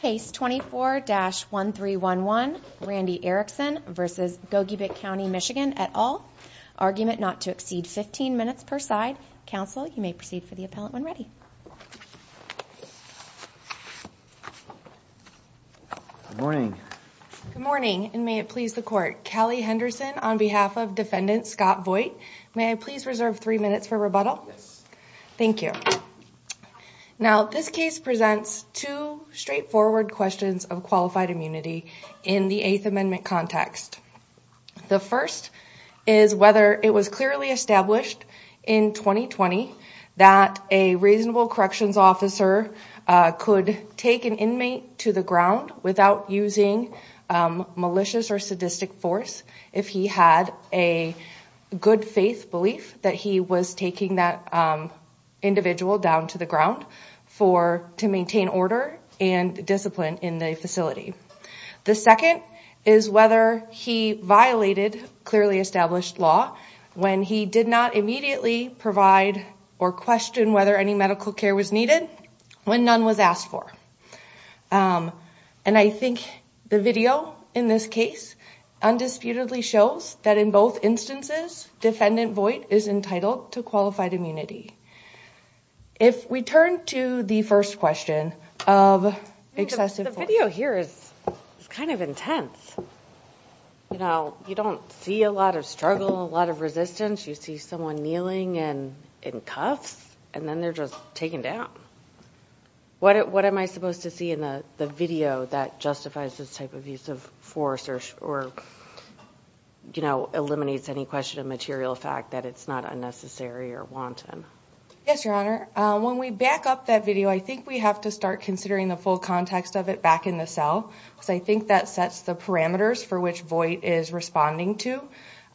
Case 24-1311, Randy Erickson v. Gogebic County, MI et al. Argument not to exceed 15 minutes per side. Counsel, you may proceed for the appellant when ready. Good morning. Good morning, and may it please the Court. Callie Henderson on behalf of Defendant Scott Voigt. May I please reserve three minutes for rebuttal? Yes. Thank you. Now, this case presents two straightforward questions of qualified immunity in the Eighth Amendment context. The first is whether it was clearly established in 2020 that a reasonable corrections officer could take an inmate to the ground without using malicious or sadistic force if he had a good-faith belief that he was taking that individual down to the ground to maintain order and discipline in the facility. The second is whether he violated clearly established law when he did not immediately provide or question whether any medical care was needed when none was asked for. And I think the video in this case undisputedly shows that in both instances, Defendant Voigt is entitled to qualified immunity. If we turn to the first question of excessive force. The video here is kind of intense. You know, you don't see a lot of struggle, a lot of resistance. You see someone kneeling in cuffs, and then they're just taken down. What am I supposed to see in the video that justifies this type of use of force or, you know, eliminates any question of material fact that it's not unnecessary or wanton? Yes, Your Honor. When we back up that video, I think we have to start considering the full context of it back in the cell because I think that sets the parameters for which Voigt is responding to.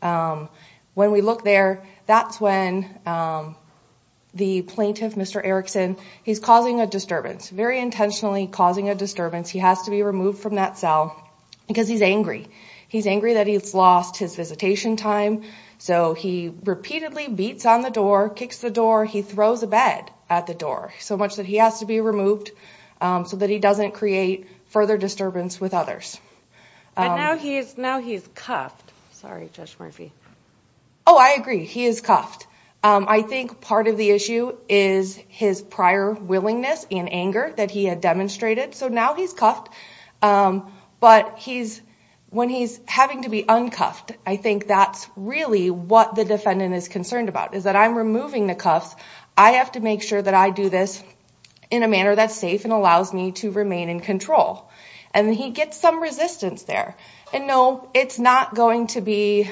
When we look there, that's when the plaintiff, Mr. Erickson, he's causing a disturbance, very intentionally causing a disturbance. He has to be removed from that cell because he's angry. He's angry that he's lost his visitation time. So he repeatedly beats on the door, kicks the door. He throws a bed at the door so much that he has to be removed so that he doesn't create further disturbance with others. But now he's cuffed. Sorry, Judge Murphy. Oh, I agree. He is cuffed. I think part of the issue is his prior willingness and anger that he had demonstrated. So now he's cuffed, but when he's having to be uncuffed, I think that's really what the defendant is concerned about is that I'm removing the cuffs. I have to make sure that I do this in a manner that's safe and allows me to remain in control. And he gets some resistance there. And, no, it's not going to be,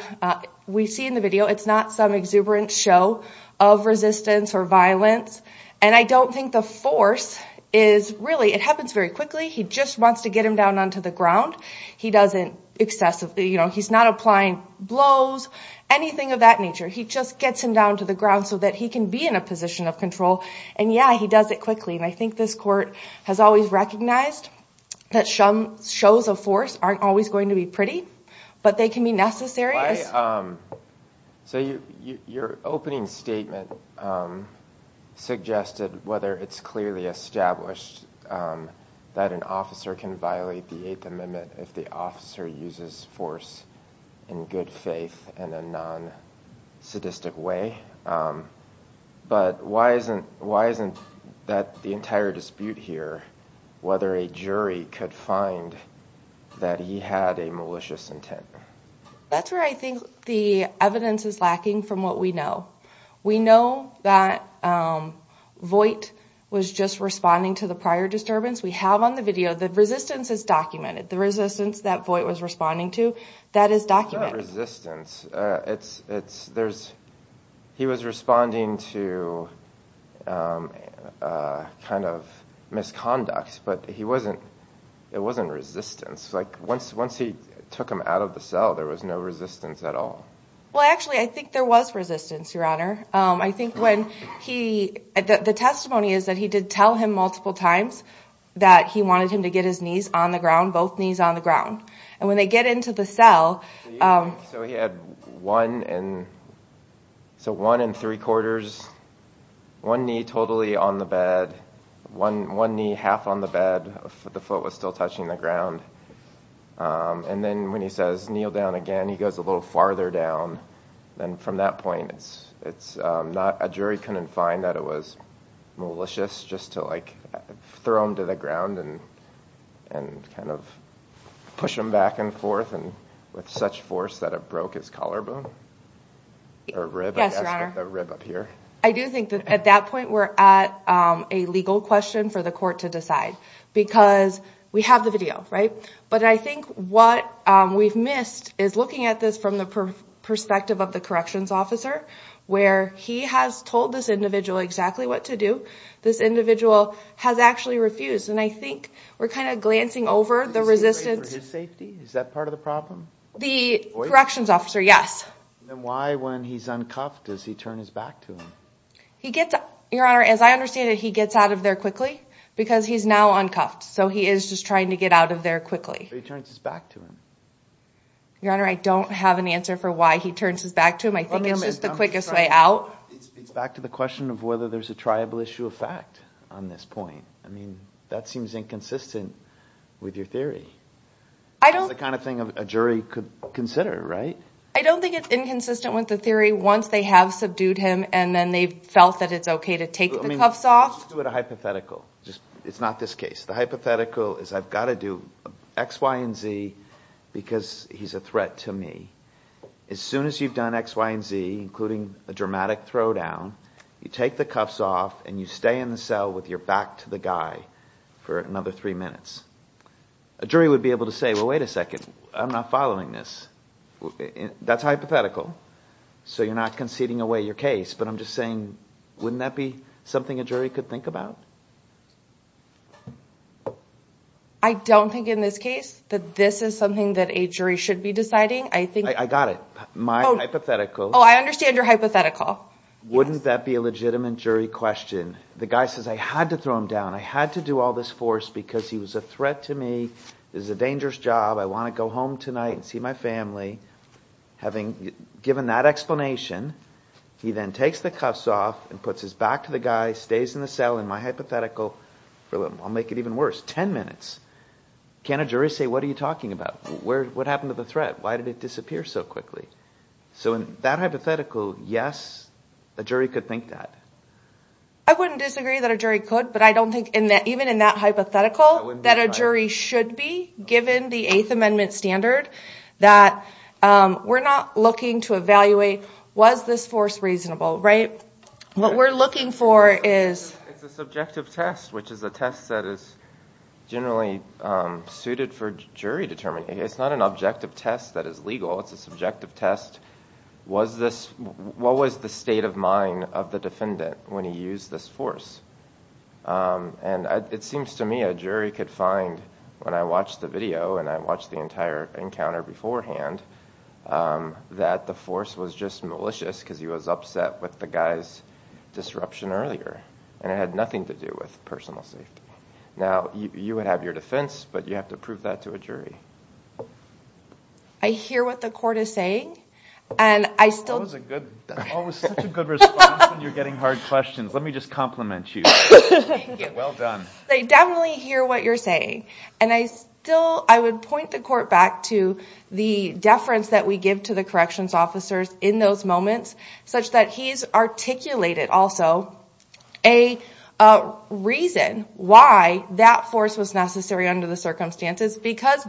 we see in the video, it's not some exuberant show of resistance or violence. And I don't think the force is really, it happens very quickly. He just wants to get him down onto the ground. He doesn't excessively, you know, he's not applying blows, anything of that nature. He just gets him down to the ground so that he can be in a position of control. And, yeah, he does it quickly. And I think this court has always recognized that shows of force aren't always going to be pretty, but they can be necessary. So your opening statement suggested whether it's clearly established that an officer can violate the Eighth Amendment if the officer uses force in good faith in a non-sadistic way. But why isn't that the entire dispute here, whether a jury could find that he had a malicious intent? That's where I think the evidence is lacking from what we know. We know that Voight was just responding to the prior disturbance. We have on the video, the resistance is documented. The resistance that Voight was responding to, that is documented. It's not resistance. He was responding to kind of misconduct, but it wasn't resistance. Like once he took him out of the cell, there was no resistance at all. Well, actually, I think there was resistance, Your Honor. I think when he, the testimony is that he did tell him multiple times that he wanted him to get his knees on the ground, both knees on the ground. And when they get into the cell... So he had one and three quarters, one knee totally on the bed, one knee half on the bed, the foot was still touching the ground. And then when he says, kneel down again, he goes a little farther down. And from that point, a jury couldn't find that it was malicious just to throw him to the ground and kind of push him back and forth with such force that it broke his collarbone? Yes, Your Honor. I do think that at that point, we're at a legal question for the court to decide because we have the video, right? But I think what we've missed is looking at this from the perspective of the corrections officer where he has told this individual exactly what to do. This individual has actually refused. And I think we're kind of glancing over the resistance. Is this great for his safety? Is that part of the problem? The corrections officer, yes. Then why, when he's uncuffed, does he turn his back to him? Your Honor, as I understand it, he gets out of there quickly because he's now uncuffed. So he is just trying to get out of there quickly. So he turns his back to him? Your Honor, I don't have an answer for why he turns his back to him. I think it's just the quickest way out. It's back to the question of whether there's a triable issue of fact on this point. I mean, that seems inconsistent with your theory. That's the kind of thing a jury could consider, right? I don't think it's inconsistent with the theory once they have subdued him and then they've felt that it's okay to take the cuffs off. Let's do a hypothetical. It's not this case. The hypothetical is I've got to do X, Y, and Z because he's a threat to me. As soon as you've done X, Y, and Z, including a dramatic throwdown, you take the cuffs off and you stay in the cell with your back to the guy for another three minutes. A jury would be able to say, well, wait a second. I'm not following this. That's hypothetical. So you're not conceding away your case. But I'm just saying, wouldn't that be something a jury could think about? I don't think in this case that this is something that a jury should be deciding. I got it. My hypothetical. Oh, I understand your hypothetical. Wouldn't that be a legitimate jury question? The guy says, I had to throw him down. I had to do all this force because he was a threat to me. This is a dangerous job. I want to go home tonight and see my family. Having given that explanation, he then takes the cuffs off and puts his back to the guy, stays in the cell. In my hypothetical, I'll make it even worse, ten minutes. Can't a jury say, what are you talking about? What happened to the threat? Why did it disappear so quickly? So in that hypothetical, yes, a jury could think that. I wouldn't disagree that a jury could. But I don't think even in that hypothetical that a jury should be, given the Eighth Amendment standard, that we're not looking to evaluate, was this force reasonable? What we're looking for is... It's a subjective test, which is a test that is generally suited for jury determination. It's not an objective test that is legal. It's a subjective test. What was the state of mind of the defendant when he used this force? And it seems to me a jury could find, when I watched the video and I watched the entire encounter beforehand, that the force was just malicious because he was upset with the guy's disruption earlier. And it had nothing to do with personal safety. Now, you would have your defense, but you have to prove that to a jury. I hear what the court is saying, and I still... That was a good... That was such a good response when you're getting hard questions. Let me just compliment you. Thank you. Well done. I definitely hear what you're saying, and I still... I would point the court back to the deference that we give to the corrections officers in those moments, such that he's articulated also a reason why that force was necessary under the circumstances, because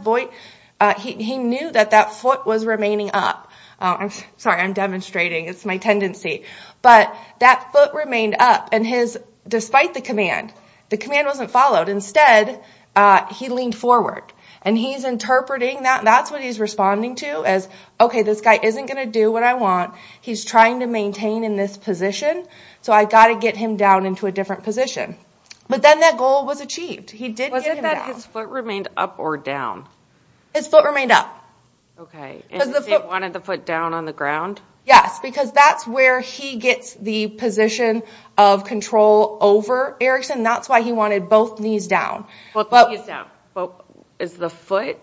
he knew that that foot was remaining up. I'm sorry. I'm demonstrating. It's my tendency. But that foot remained up, and his... Despite the command, the command wasn't followed. Instead, he leaned forward, and he's interpreting that. That's what he's responding to as, okay, this guy isn't going to do what I want. He's trying to maintain in this position, so I've got to get him down into a different position. But then that goal was achieved. He did get him down. Was it that his foot remained up or down? His foot remained up. Okay. And he wanted the foot down on the ground? Yes, because that's where he gets the position of control over Erickson. That's why he wanted both knees down. Both knees down. Is the foot...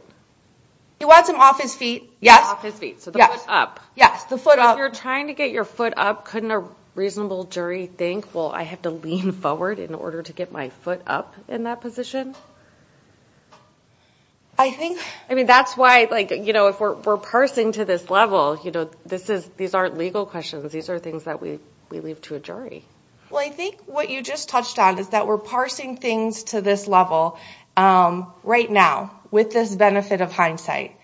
He wants him off his feet. Yes. Off his feet, so the foot up. Yes, the foot up. If you're trying to get your foot up, couldn't a reasonable jury think, well, I have to lean forward in order to get my foot up in that position? I think... I mean, that's why if we're parsing to this level, these aren't legal questions. These are things that we leave to a jury. Well, I think what you just touched on is that we're parsing things to this level right now with this benefit of hindsight.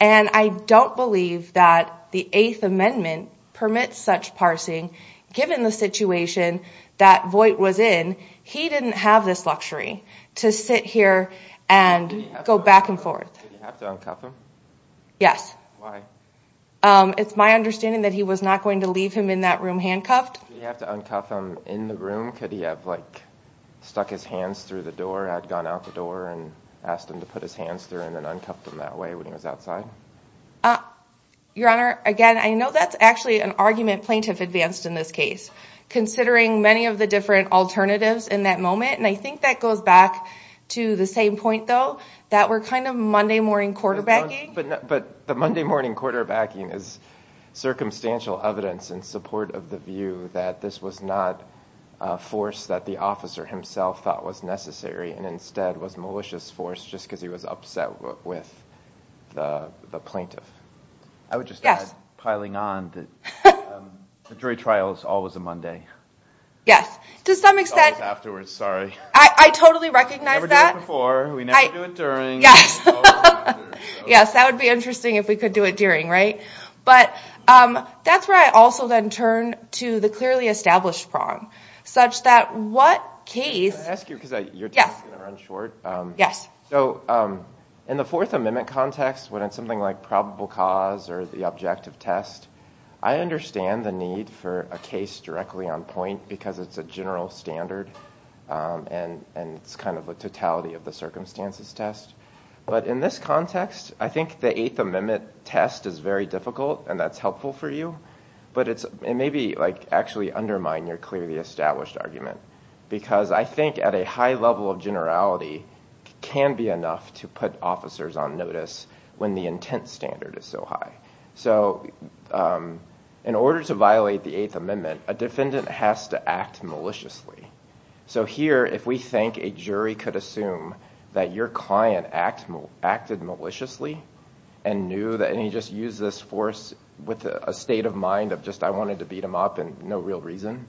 And I don't believe that the Eighth Amendment permits such parsing, given the situation that Voight was in. He didn't have this luxury to sit here and go back and forth. Did he have to uncuff him? Yes. Why? It's my understanding that he was not going to leave him in that room handcuffed. Did he have to uncuff him in the room? Could he have, like, stuck his hands through the door and had gone out the door and asked him to put his hands through and then uncuffed them that way when he was outside? Your Honor, again, I know that's actually an argument plaintiff advanced in this case, considering many of the different alternatives in that moment. And I think that goes back to the same point, though, that we're kind of Monday morning quarterbacking. But the Monday morning quarterbacking is circumstantial evidence in support of the view that this was not a force that the officer himself thought was necessary and instead was a malicious force just because he was upset with the plaintiff. I would just add, piling on, that the jury trial is always a Monday. Yes. To some extent... It's always afterwards, sorry. I totally recognize that. We never do it before. We never do it during. Yes. Yes, that would be interesting if we could do it during, right? But that's where I also then turn to the clearly established prong, such that what case... I'm going to ask you because your time is going to run short. Yes. So in the Fourth Amendment context, when it's something like probable cause or the objective test, I understand the need for a case directly on point because it's a general standard and it's kind of a totality of the circumstances test. But in this context, I think the Eighth Amendment test is very difficult, and that's helpful for you, but it may actually undermine your clearly established argument because I think at a high level of generality, it can be enough to put officers on notice when the intent standard is so high. So in order to violate the Eighth Amendment, a defendant has to act maliciously. So here, if we think a jury could assume that your client acted maliciously and he just used this force with a state of mind of just, I wanted to beat him up and no real reason,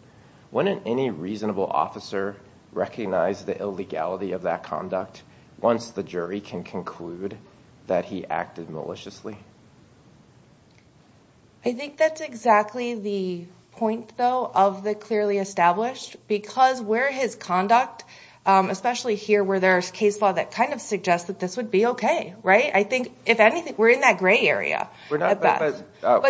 wouldn't any reasonable officer recognize the illegality of that conduct once the jury can conclude that he acted maliciously? I think that's exactly the point, though, of the clearly established because where his conduct, especially here where there's case law that kind of suggests that this would be okay, right? I think, if anything, we're in that gray area. But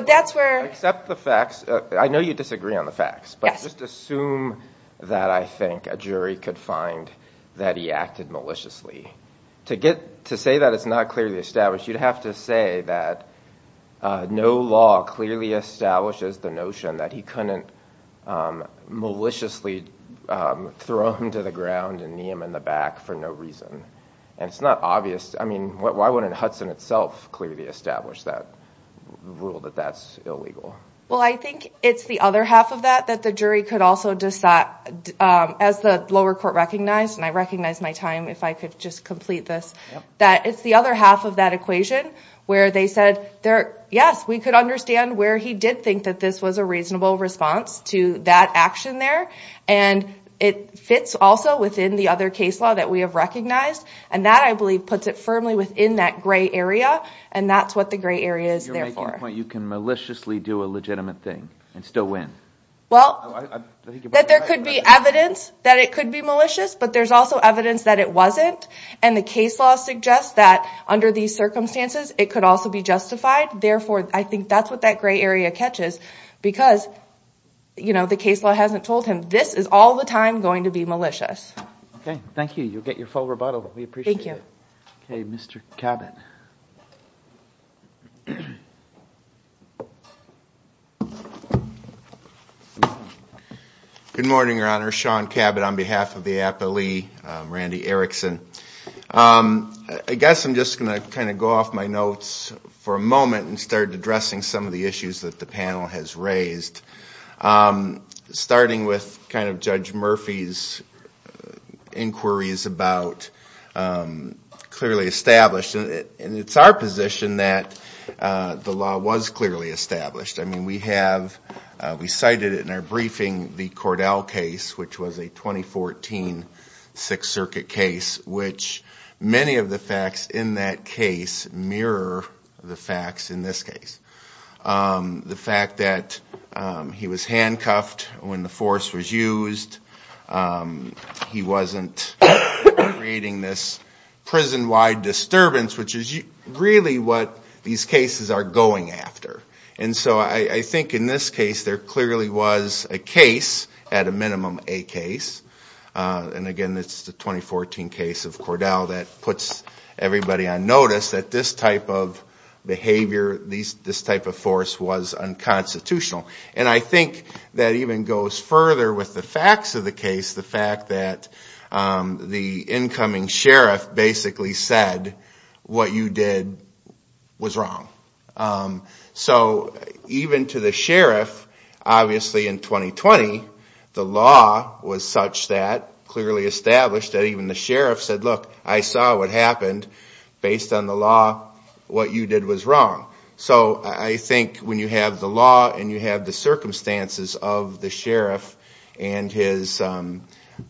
that's where... I accept the facts. I know you disagree on the facts, but just assume that I think a jury could find that he acted maliciously. To say that it's not clearly established, you'd have to say that no law clearly establishes the notion that he couldn't maliciously throw him to the ground and knee him in the back for no reason, and it's not obvious. I mean, why wouldn't Hudson itself clearly establish that rule that that's illegal? Well, I think it's the other half of that that the jury could also decide, as the lower court recognized, and I recognize my time if I could just complete this, that it's the other half of that equation where they said, yes, we could understand where he did think that this was a reasonable response to that action there, and it fits also within the other case law that we have recognized, and that, I believe, puts it firmly within that gray area, and that's what the gray area is there for. You're making the point you can maliciously do a legitimate thing and still win. Well, that there could be evidence that it could be malicious, but there's also evidence that it wasn't, and the case law suggests that under these circumstances it could also be justified. Therefore, I think that's what that gray area catches because the case law hasn't told him this is all the time going to be malicious. Okay, thank you. You'll get your full rebuttal. We appreciate it. Okay, Mr. Cabot. Good morning, Your Honor. Sean Cabot on behalf of the Appellee, Randy Erickson. I guess I'm just going to kind of go off my notes for a moment and start addressing some of the issues that the panel has raised, starting with kind of Judge Murphy's inquiries about clearly established, and it's our position that the law was clearly established. I mean, we cited in our briefing the Cordell case, which was a 2014 Sixth Circuit case, which many of the facts in that case mirror the facts in this case. The fact that he was handcuffed when the force was used, he wasn't creating this prison-wide disturbance, which is really what these cases are going after. And so I think in this case, there clearly was a case, at a minimum, a case. And again, it's the 2014 case of Cordell that puts everybody on notice that this type of behavior, this type of force was unconstitutional. And I think that even goes further with the facts of the case, the fact that the incoming sheriff basically said, what you did was wrong. So even to the sheriff, obviously in 2020, the law was such that, clearly established, that even the sheriff said, look, I saw what happened. Based on the law, what you did was wrong. So I think when you have the law and you have the circumstances of the sheriff and his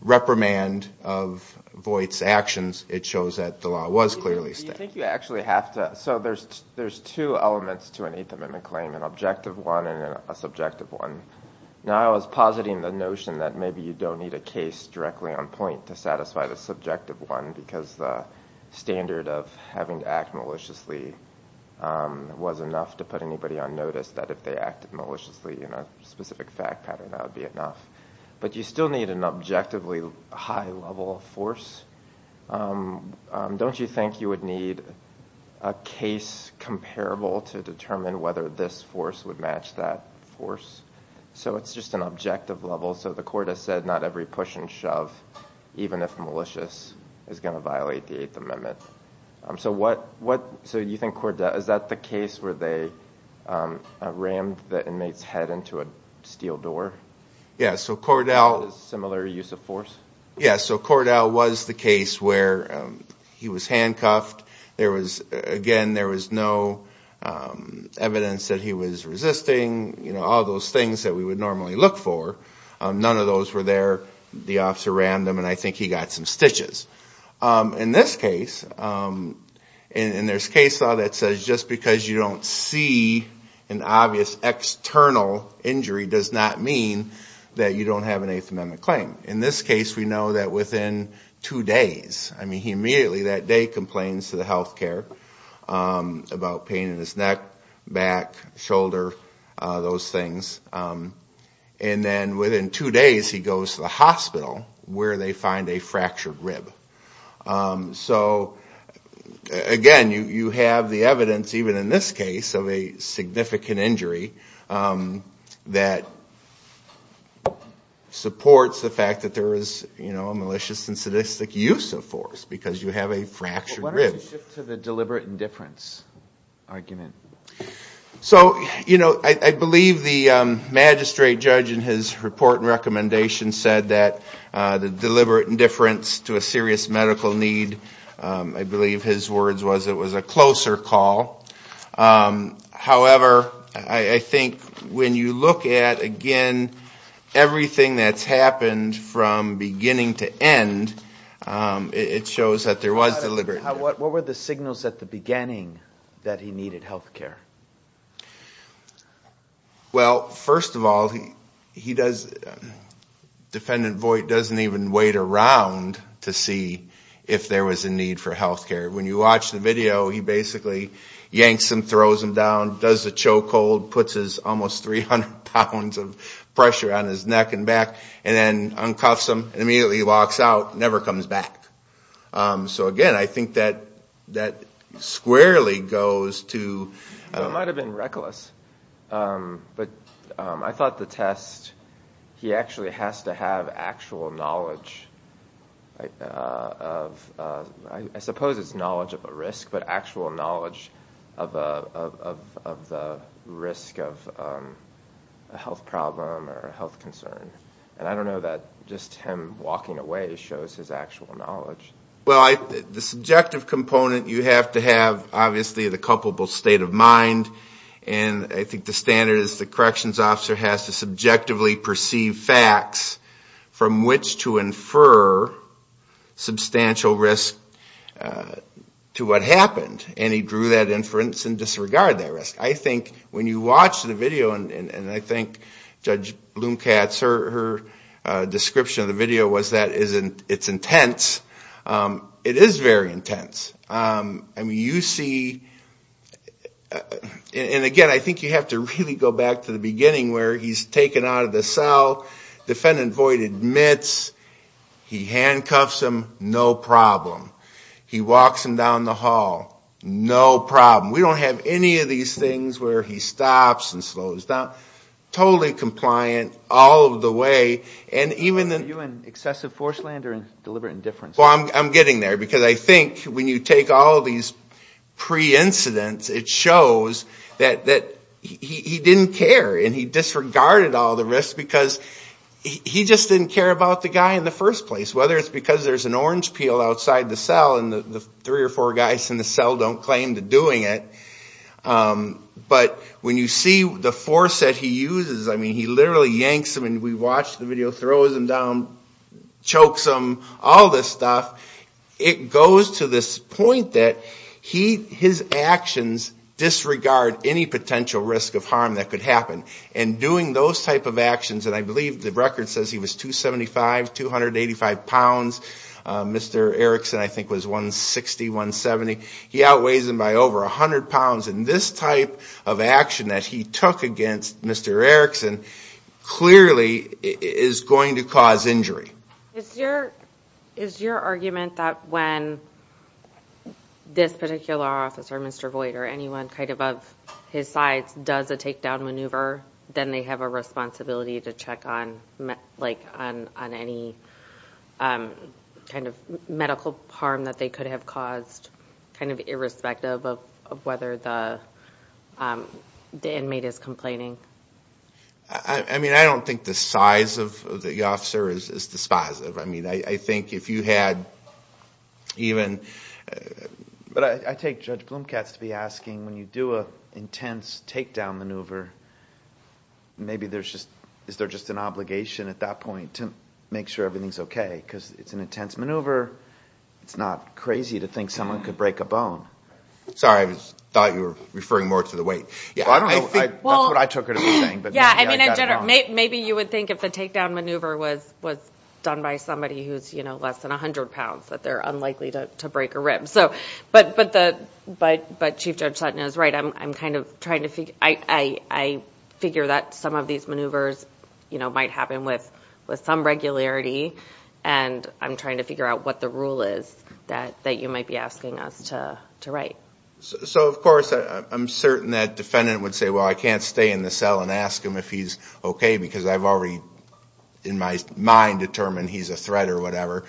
reprimand of Voight's actions, it shows that the law was clearly established. So there's two elements to an Eighth Amendment claim, an objective one and a subjective one. Now I was positing the notion that maybe you don't need a case directly on point to satisfy the subjective one, because the standard of having to act maliciously was enough to put anybody on notice that if they acted maliciously in a specific fact pattern, that would be enough. But you still need an objectively high level of force. Don't you think you would need a case comparable to determine whether this force would match that force? So it's just an objective level. So the court has said not every push and shove, even if malicious, is going to violate the Eighth Amendment. So you think Cordell, is that the case where they rammed the inmate's head into a steel door? Yes, so Cordell was the case where he was handcuffed. Again, there was no evidence that he was resisting, all those things that we would normally look for. None of those were there. The officer rammed him, and I think he got some stitches. In this case, and there's case law that says just because you don't see an obvious external injury does not mean that you don't have an Eighth Amendment claim. In this case, we know that within two days, I mean he immediately that day complains to the health care about pain in his neck, back, shoulder, those things. And then within two days, he goes to the hospital where they find a fractured rib. So again, you have the evidence, even in this case, of a significant injury that supports the fact that there is a malicious and sadistic use of force because you have a fractured rib. Why don't you shift to the deliberate indifference argument? So I believe the magistrate judge in his report and recommendation said that the deliberate indifference to a serious medical need, I believe his words was it was a closer call. However, I think when you look at, again, everything that's happened from beginning to end, it shows that there was deliberate indifference. What were the signals at the beginning that he needed health care? Well, first of all, he does, Defendant Voight doesn't even wait around to see if there was a need for health care. When you watch the video, he basically yanks him, throws him down, does the choke hold, puts his almost 300 pounds of pressure on his neck and back, and then uncoffs him and immediately walks out, never comes back. So again, I think that squarely goes to... It might have been reckless, but I thought the test, he actually has to have actual knowledge of, I suppose it's knowledge of a risk, but actual knowledge of the risk of a health problem or a health concern. And I don't know that just him walking away shows his actual knowledge. Well, the subjective component, you have to have, obviously, the culpable state of mind, and I think the standard is the corrections officer has to subjectively perceive facts from which to infer substantial risk to what happened, and he drew that inference and disregarded that risk. I think when you watch the video, and I think Judge Loomkatz, her description of the video was that it's intense. It is very intense. I mean, you see... And again, I think you have to really go back to the beginning where he's taken out of the cell, Defendant Voight admits, he handcuffs him, no problem. He walks him down the hall, no problem. We don't have any of these things where he stops and slows down. Totally compliant all of the way, and even... Are you in excessive forceland or deliberate indifference? Well, I'm getting there, because I think when you take all these pre-incidents, it shows that he didn't care, and he disregarded all the risks because he just didn't care about the guy in the first place, whether it's because there's an orange peel outside the cell and the three or four guys in the cell don't claim to doing it. But when you see the force that he uses, I mean, he literally yanks him, and we watched the video, throws him down, chokes him, all this stuff. It goes to this point that his actions disregard any potential risk of harm that could happen, and doing those type of actions, and I believe the record says he was 275, 285 pounds. Mr. Erickson, I think, was 160, 170. He outweighs him by over 100 pounds, and this type of action that he took against Mr. Erickson clearly is going to cause injury. Is your argument that when this particular officer, Mr. Voight, or anyone kind of of his size does a takedown maneuver, then they have a responsibility to check on any kind of medical harm that they could have caused, kind of irrespective of whether the inmate is complaining? I mean, I don't think the size of the officer is dispositive. I mean, I think if you had even... But I take Judge Blumkatz to be asking, when you do an intense takedown maneuver, maybe there's just... is there just an obligation at that point to make sure everything's okay? Because it's an intense maneuver. It's not crazy to think someone could break a bone. Sorry. I thought you were referring more to the weight. I don't know. That's what I took her to be saying. Maybe you would think if the takedown maneuver was done by somebody who's less than 100 pounds, that they're unlikely to break a rib. But Chief Judge Sutton is right. I figure that some of these maneuvers might happen with some regularity, and I'm trying to figure out what the rule is that you might be asking us to write. So, of course, I'm certain that defendant would say, well, I can't stay in the cell and ask him if he's okay, because I've already in my mind determined he's a threat or whatever.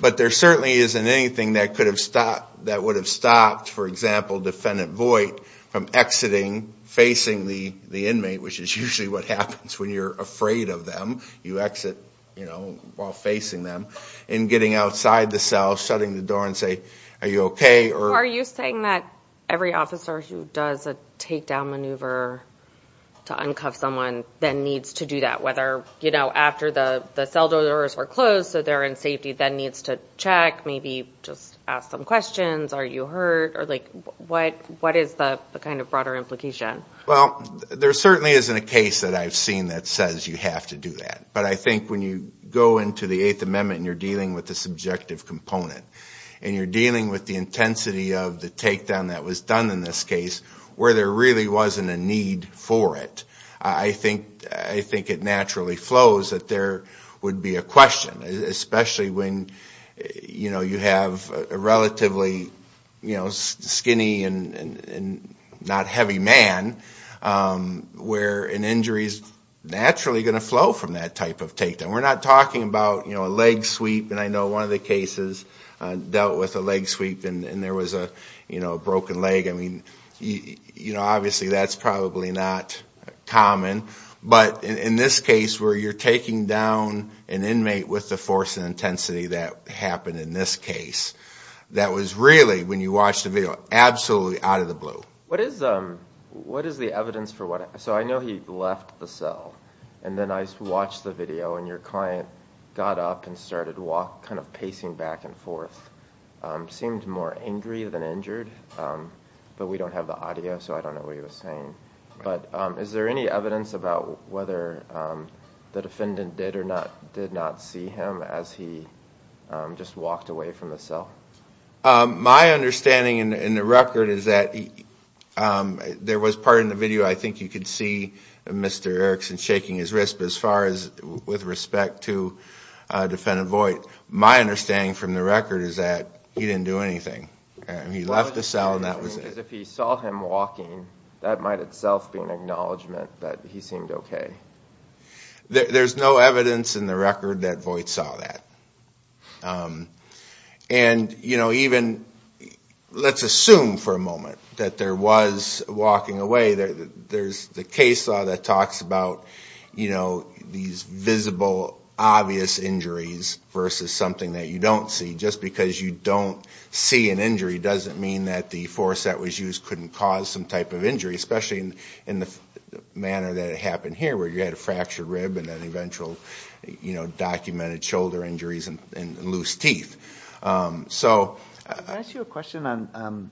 But there certainly isn't anything that would have stopped, for example, defendant Voight from exiting, facing the inmate, which is usually what happens when you're afraid of them. You exit while facing them. And getting outside the cell, shutting the door and say, are you okay? Are you saying that every officer who does a takedown maneuver to uncover someone then needs to do that, whether, you know, after the cell doors were closed, so they're in safety, then needs to check, maybe just ask them questions, are you hurt? Or, like, what is the kind of broader implication? Well, there certainly isn't a case that I've seen that says you have to do that. But I think when you go into the Eighth Amendment and you're dealing with the subjective component and you're dealing with the intensity of the takedown that was done in this case, where there really wasn't a need for it, I think it naturally flows that there would be a question, especially when, you know, you have a relatively, you know, skinny and not heavy man where an injury is naturally going to flow from that type of takedown. And we're not talking about, you know, a leg sweep. And I know one of the cases dealt with a leg sweep and there was a, you know, a broken leg. I mean, you know, obviously that's probably not common. But in this case where you're taking down an inmate with the force and intensity that happened in this case, that was really, when you watched the video, absolutely out of the blue. What is the evidence for what? So I know he left the cell. And then I watched the video and your client got up and started walking, kind of pacing back and forth, seemed more angry than injured. But we don't have the audio, so I don't know what he was saying. But is there any evidence about whether the defendant did or did not see him as he just walked away from the cell? My understanding in the record is that there was part in the video, I think you could see Mr. Erickson shaking his wrist. But as far as with respect to Defendant Voight, my understanding from the record is that he didn't do anything. He left the cell and that was it. If he saw him walking, that might itself be an acknowledgement that he seemed okay. There's no evidence in the record that Voight saw that. And, you know, even let's assume for a moment that there was walking away. There's the case law that talks about, you know, these visible, obvious injuries versus something that you don't see. Just because you don't see an injury doesn't mean that the force that was used couldn't cause some type of injury, especially in the manner that it happened here where you had a fractured rib and then eventual, you know, documented shoulder injuries and loose teeth. Can I ask you a question on,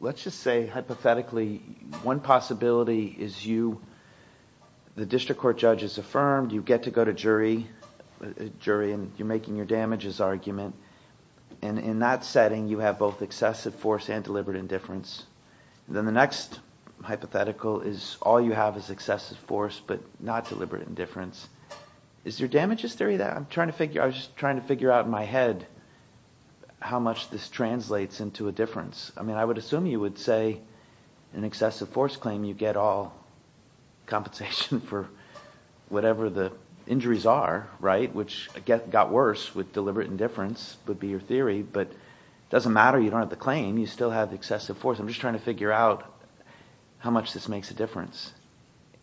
let's just say hypothetically, one possibility is you, the district court judge has affirmed, you get to go to jury and you're making your damages argument. And in that setting you have both excessive force and deliberate indifference. Then the next hypothetical is all you have is excessive force but not deliberate indifference. Is your damages theory that? I'm just trying to figure out in my head how much this translates into a difference. I mean, I would assume you would say in excessive force claim you get all compensation for whatever the injuries are, right, which got worse with deliberate indifference would be your theory. But it doesn't matter, you don't have the claim, you still have excessive force. I'm just trying to figure out how much this makes a difference.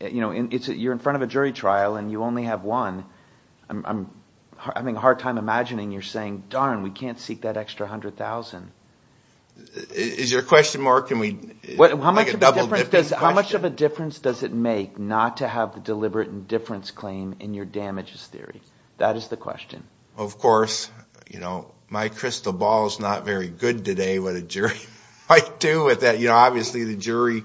You know, you're in front of a jury trial and you only have one. I'm having a hard time imagining you're saying, darn, we can't seek that extra $100,000. Is your question more can we make a double difference? How much of a difference does it make not to have the deliberate indifference claim in your damages theory? That is the question. Of course, you know, my crystal ball is not very good today with a jury. Obviously the jury,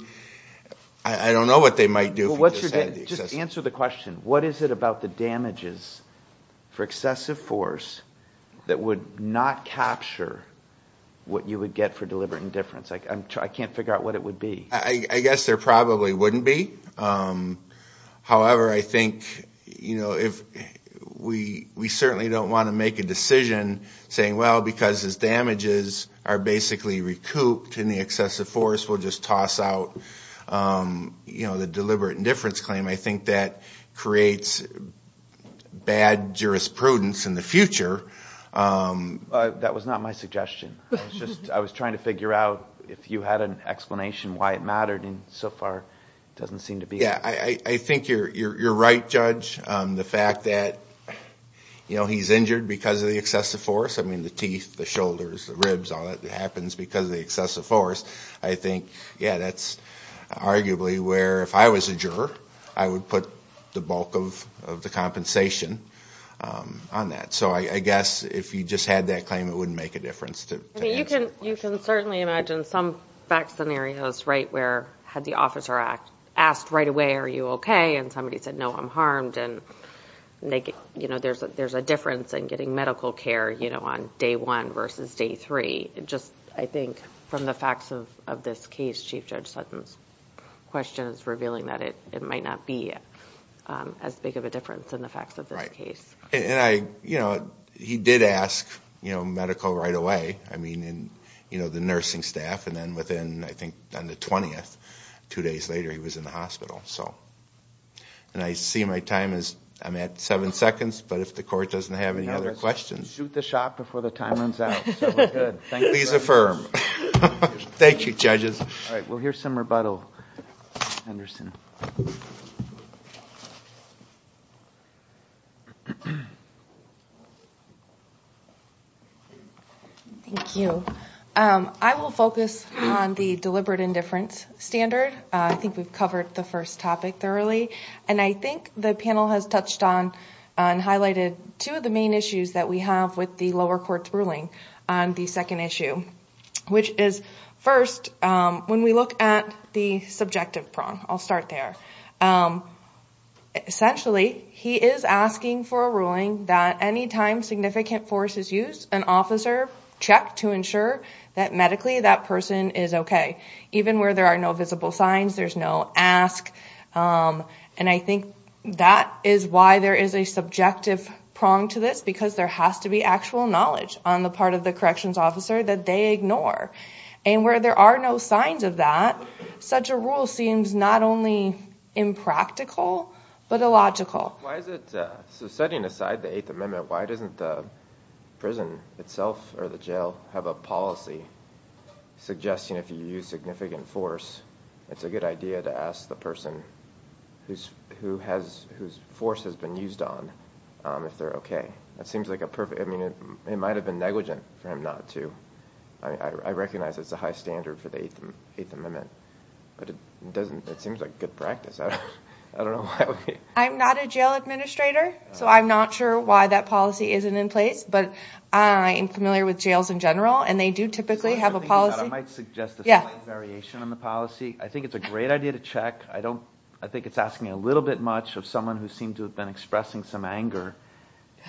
I don't know what they might do. Just answer the question. What is it about the damages for excessive force that would not capture what you would get for deliberate indifference? I can't figure out what it would be. I guess there probably wouldn't be. However, I think we certainly don't want to make a decision saying, well, because his damages are basically recouped in the excessive force, we'll just toss out the deliberate indifference claim. I think that creates bad jurisprudence in the future. That was not my suggestion. I was trying to figure out if you had an explanation why it mattered, and so far it doesn't seem to be. Yeah, I think you're right, Judge. The fact that he's injured because of the excessive force, I mean the teeth, the shoulders, the ribs, all that happens because of the excessive force. I think, yeah, that's arguably where if I was a juror, I would put the bulk of the compensation on that. So I guess if you just had that claim, it wouldn't make a difference. You can certainly imagine some back scenarios, right, where had the Officer Act asked right away, are you okay? And somebody said, no, I'm harmed, and there's a difference in getting medical care on day one versus day three. Just, I think, from the facts of this case, Chief Judge Sutton's question is revealing that it might not be as big of a difference in the facts of this case. Right, and he did ask medical right away, the nursing staff, and then within, I think, on the 20th, two days later, he was in the hospital. And I see my time is, I'm at seven seconds, but if the Court doesn't have any other questions. Shoot the shot before the time runs out. So we're good. Please affirm. Thank you, judges. All right, well, here's some rebuttal, Henderson. Thank you. I will focus on the deliberate indifference standard. I think we've covered the first topic thoroughly. And I think the panel has touched on and highlighted two of the main issues that we have with the lower court's ruling on the second issue, which is, first, when we look at the subjective prong. I'll start there. Essentially, he is asking for a ruling that any time significant force is used, an officer checked to ensure that medically that person is okay, even where there are no visible signs, there's no ask. And I think that is why there is a subjective prong to this, because there has to be actual knowledge on the part of the corrections officer that they ignore. And where there are no signs of that, such a rule seems not only impractical, but illogical. So setting aside the Eighth Amendment, why doesn't the prison itself or the jail have a policy suggesting if you use significant force, it's a good idea to ask the person whose force has been used on if they're okay. It might have been negligent for him not to. I recognize it's a high standard for the Eighth Amendment. But it seems like good practice. I don't know why we... I'm not a jail administrator, so I'm not sure why that policy isn't in place. But I am familiar with jails in general, and they do typically have a policy... I might suggest a slight variation on the policy. I think it's a great idea to check. I think it's asking a little bit much of someone who seemed to have been expressing some anger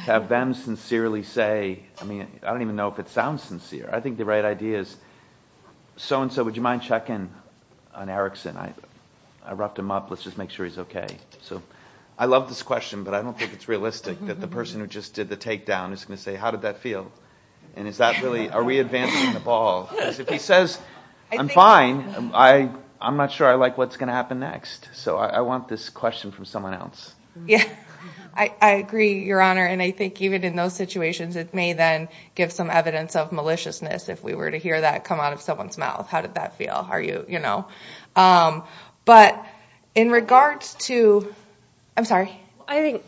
to have them sincerely say, I don't even know if it sounds sincere. I think the right idea is, so-and-so, would you mind checking on Erickson? I roughed him up. Let's just make sure he's okay. I love this question, but I don't think it's realistic that the person who just did the takedown is going to say, how did that feel? Are we advancing the ball? Because if he says, I'm fine, I'm not sure I like what's going to happen next. So I want this question from someone else. I agree, Your Honor, and I think even in those situations, it may then give some evidence of maliciousness if we were to hear that come out of someone's mouth. How did that feel? But in regards to... I'm sorry. I think,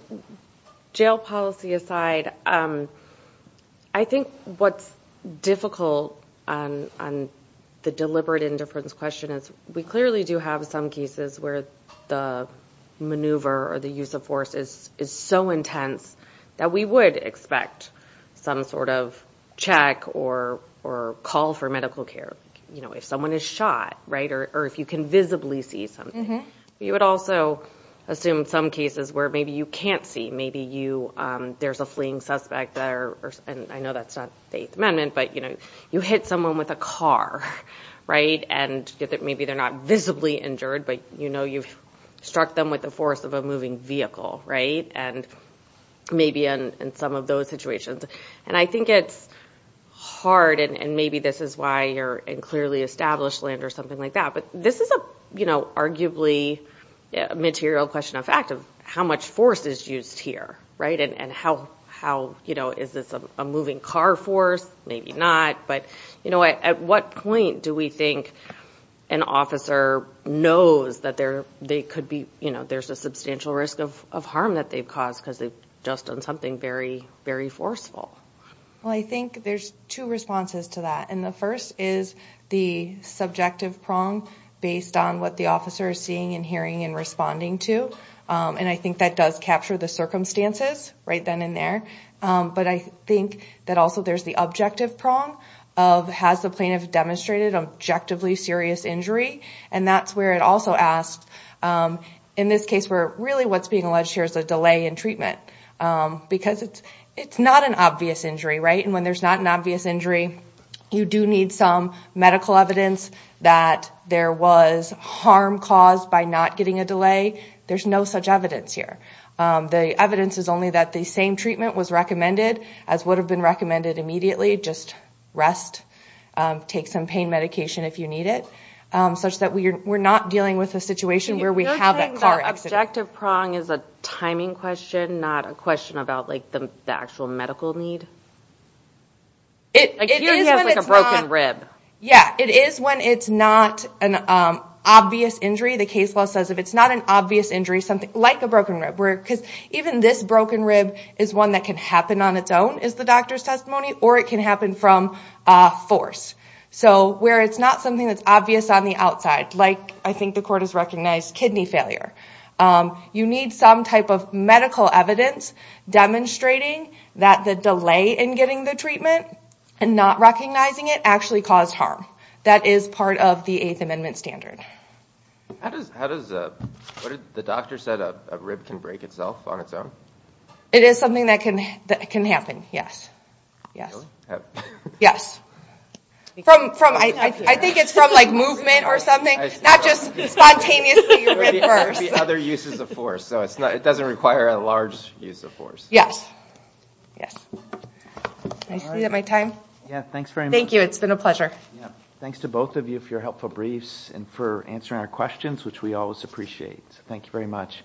jail policy aside, I think what's difficult on the deliberate indifference question is we clearly do have some cases where the maneuver or the use of force is so intense that we would expect some sort of check or call for medical care if someone is shot, right, or if you can visibly see something. You would also assume some cases where maybe you can't see. Maybe there's a fleeing suspect there, and I know that's not the Eighth Amendment, but you hit someone with a car, right, and maybe they're not visibly injured, but you've struck them with the force of a moving vehicle, right, and maybe in some of those situations. And I think it's hard, and maybe this is why you're in clearly established land or something like that, but this is arguably a material question of fact of how much force is used here, right, and is this a moving car force? Maybe not. But at what point do we think an officer knows that there's a substantial risk of harm that they've caused because they've just done something very, very forceful? Well, I think there's two responses to that, and the first is the subjective prong based on what the officer is seeing and hearing and responding to, and I think that does capture the circumstances right then and there. But I think that also there's the objective prong of has the plaintiff demonstrated objectively serious injury, and that's where it also asks, in this case where really what's being alleged here is a delay in treatment because it's not an obvious injury, right, and when there's not an obvious injury, you do need some medical evidence that there was harm caused by not getting a delay. There's no such evidence here. The evidence is only that the same treatment was recommended as would have been recommended immediately, just rest, take some pain medication if you need it, such that we're not dealing with a situation where we have that car accident. The subjective prong is a timing question, not a question about the actual medical need? It is when it's not... Like here he has a broken rib. Yeah, it is when it's not an obvious injury. The case law says if it's not an obvious injury, something like a broken rib, because even this broken rib is one that can happen on its own, is the doctor's testimony, or it can happen from force. So where it's not something that's obvious on the outside, like I think the court has recognized kidney failure, you need some type of medical evidence demonstrating that the delay in getting the treatment and not recognizing it actually caused harm. That is part of the Eighth Amendment standard. How does... The doctor said a rib can break itself on its own? It is something that can happen, yes. Yes. I think it's from movement or something, not just spontaneously reversed. Other uses of force. It doesn't require a large use of force. Yes. Thank you, it's been a pleasure. Thanks to both of you for your helpful briefs and for answering our questions, which we always appreciate. Thank you very much.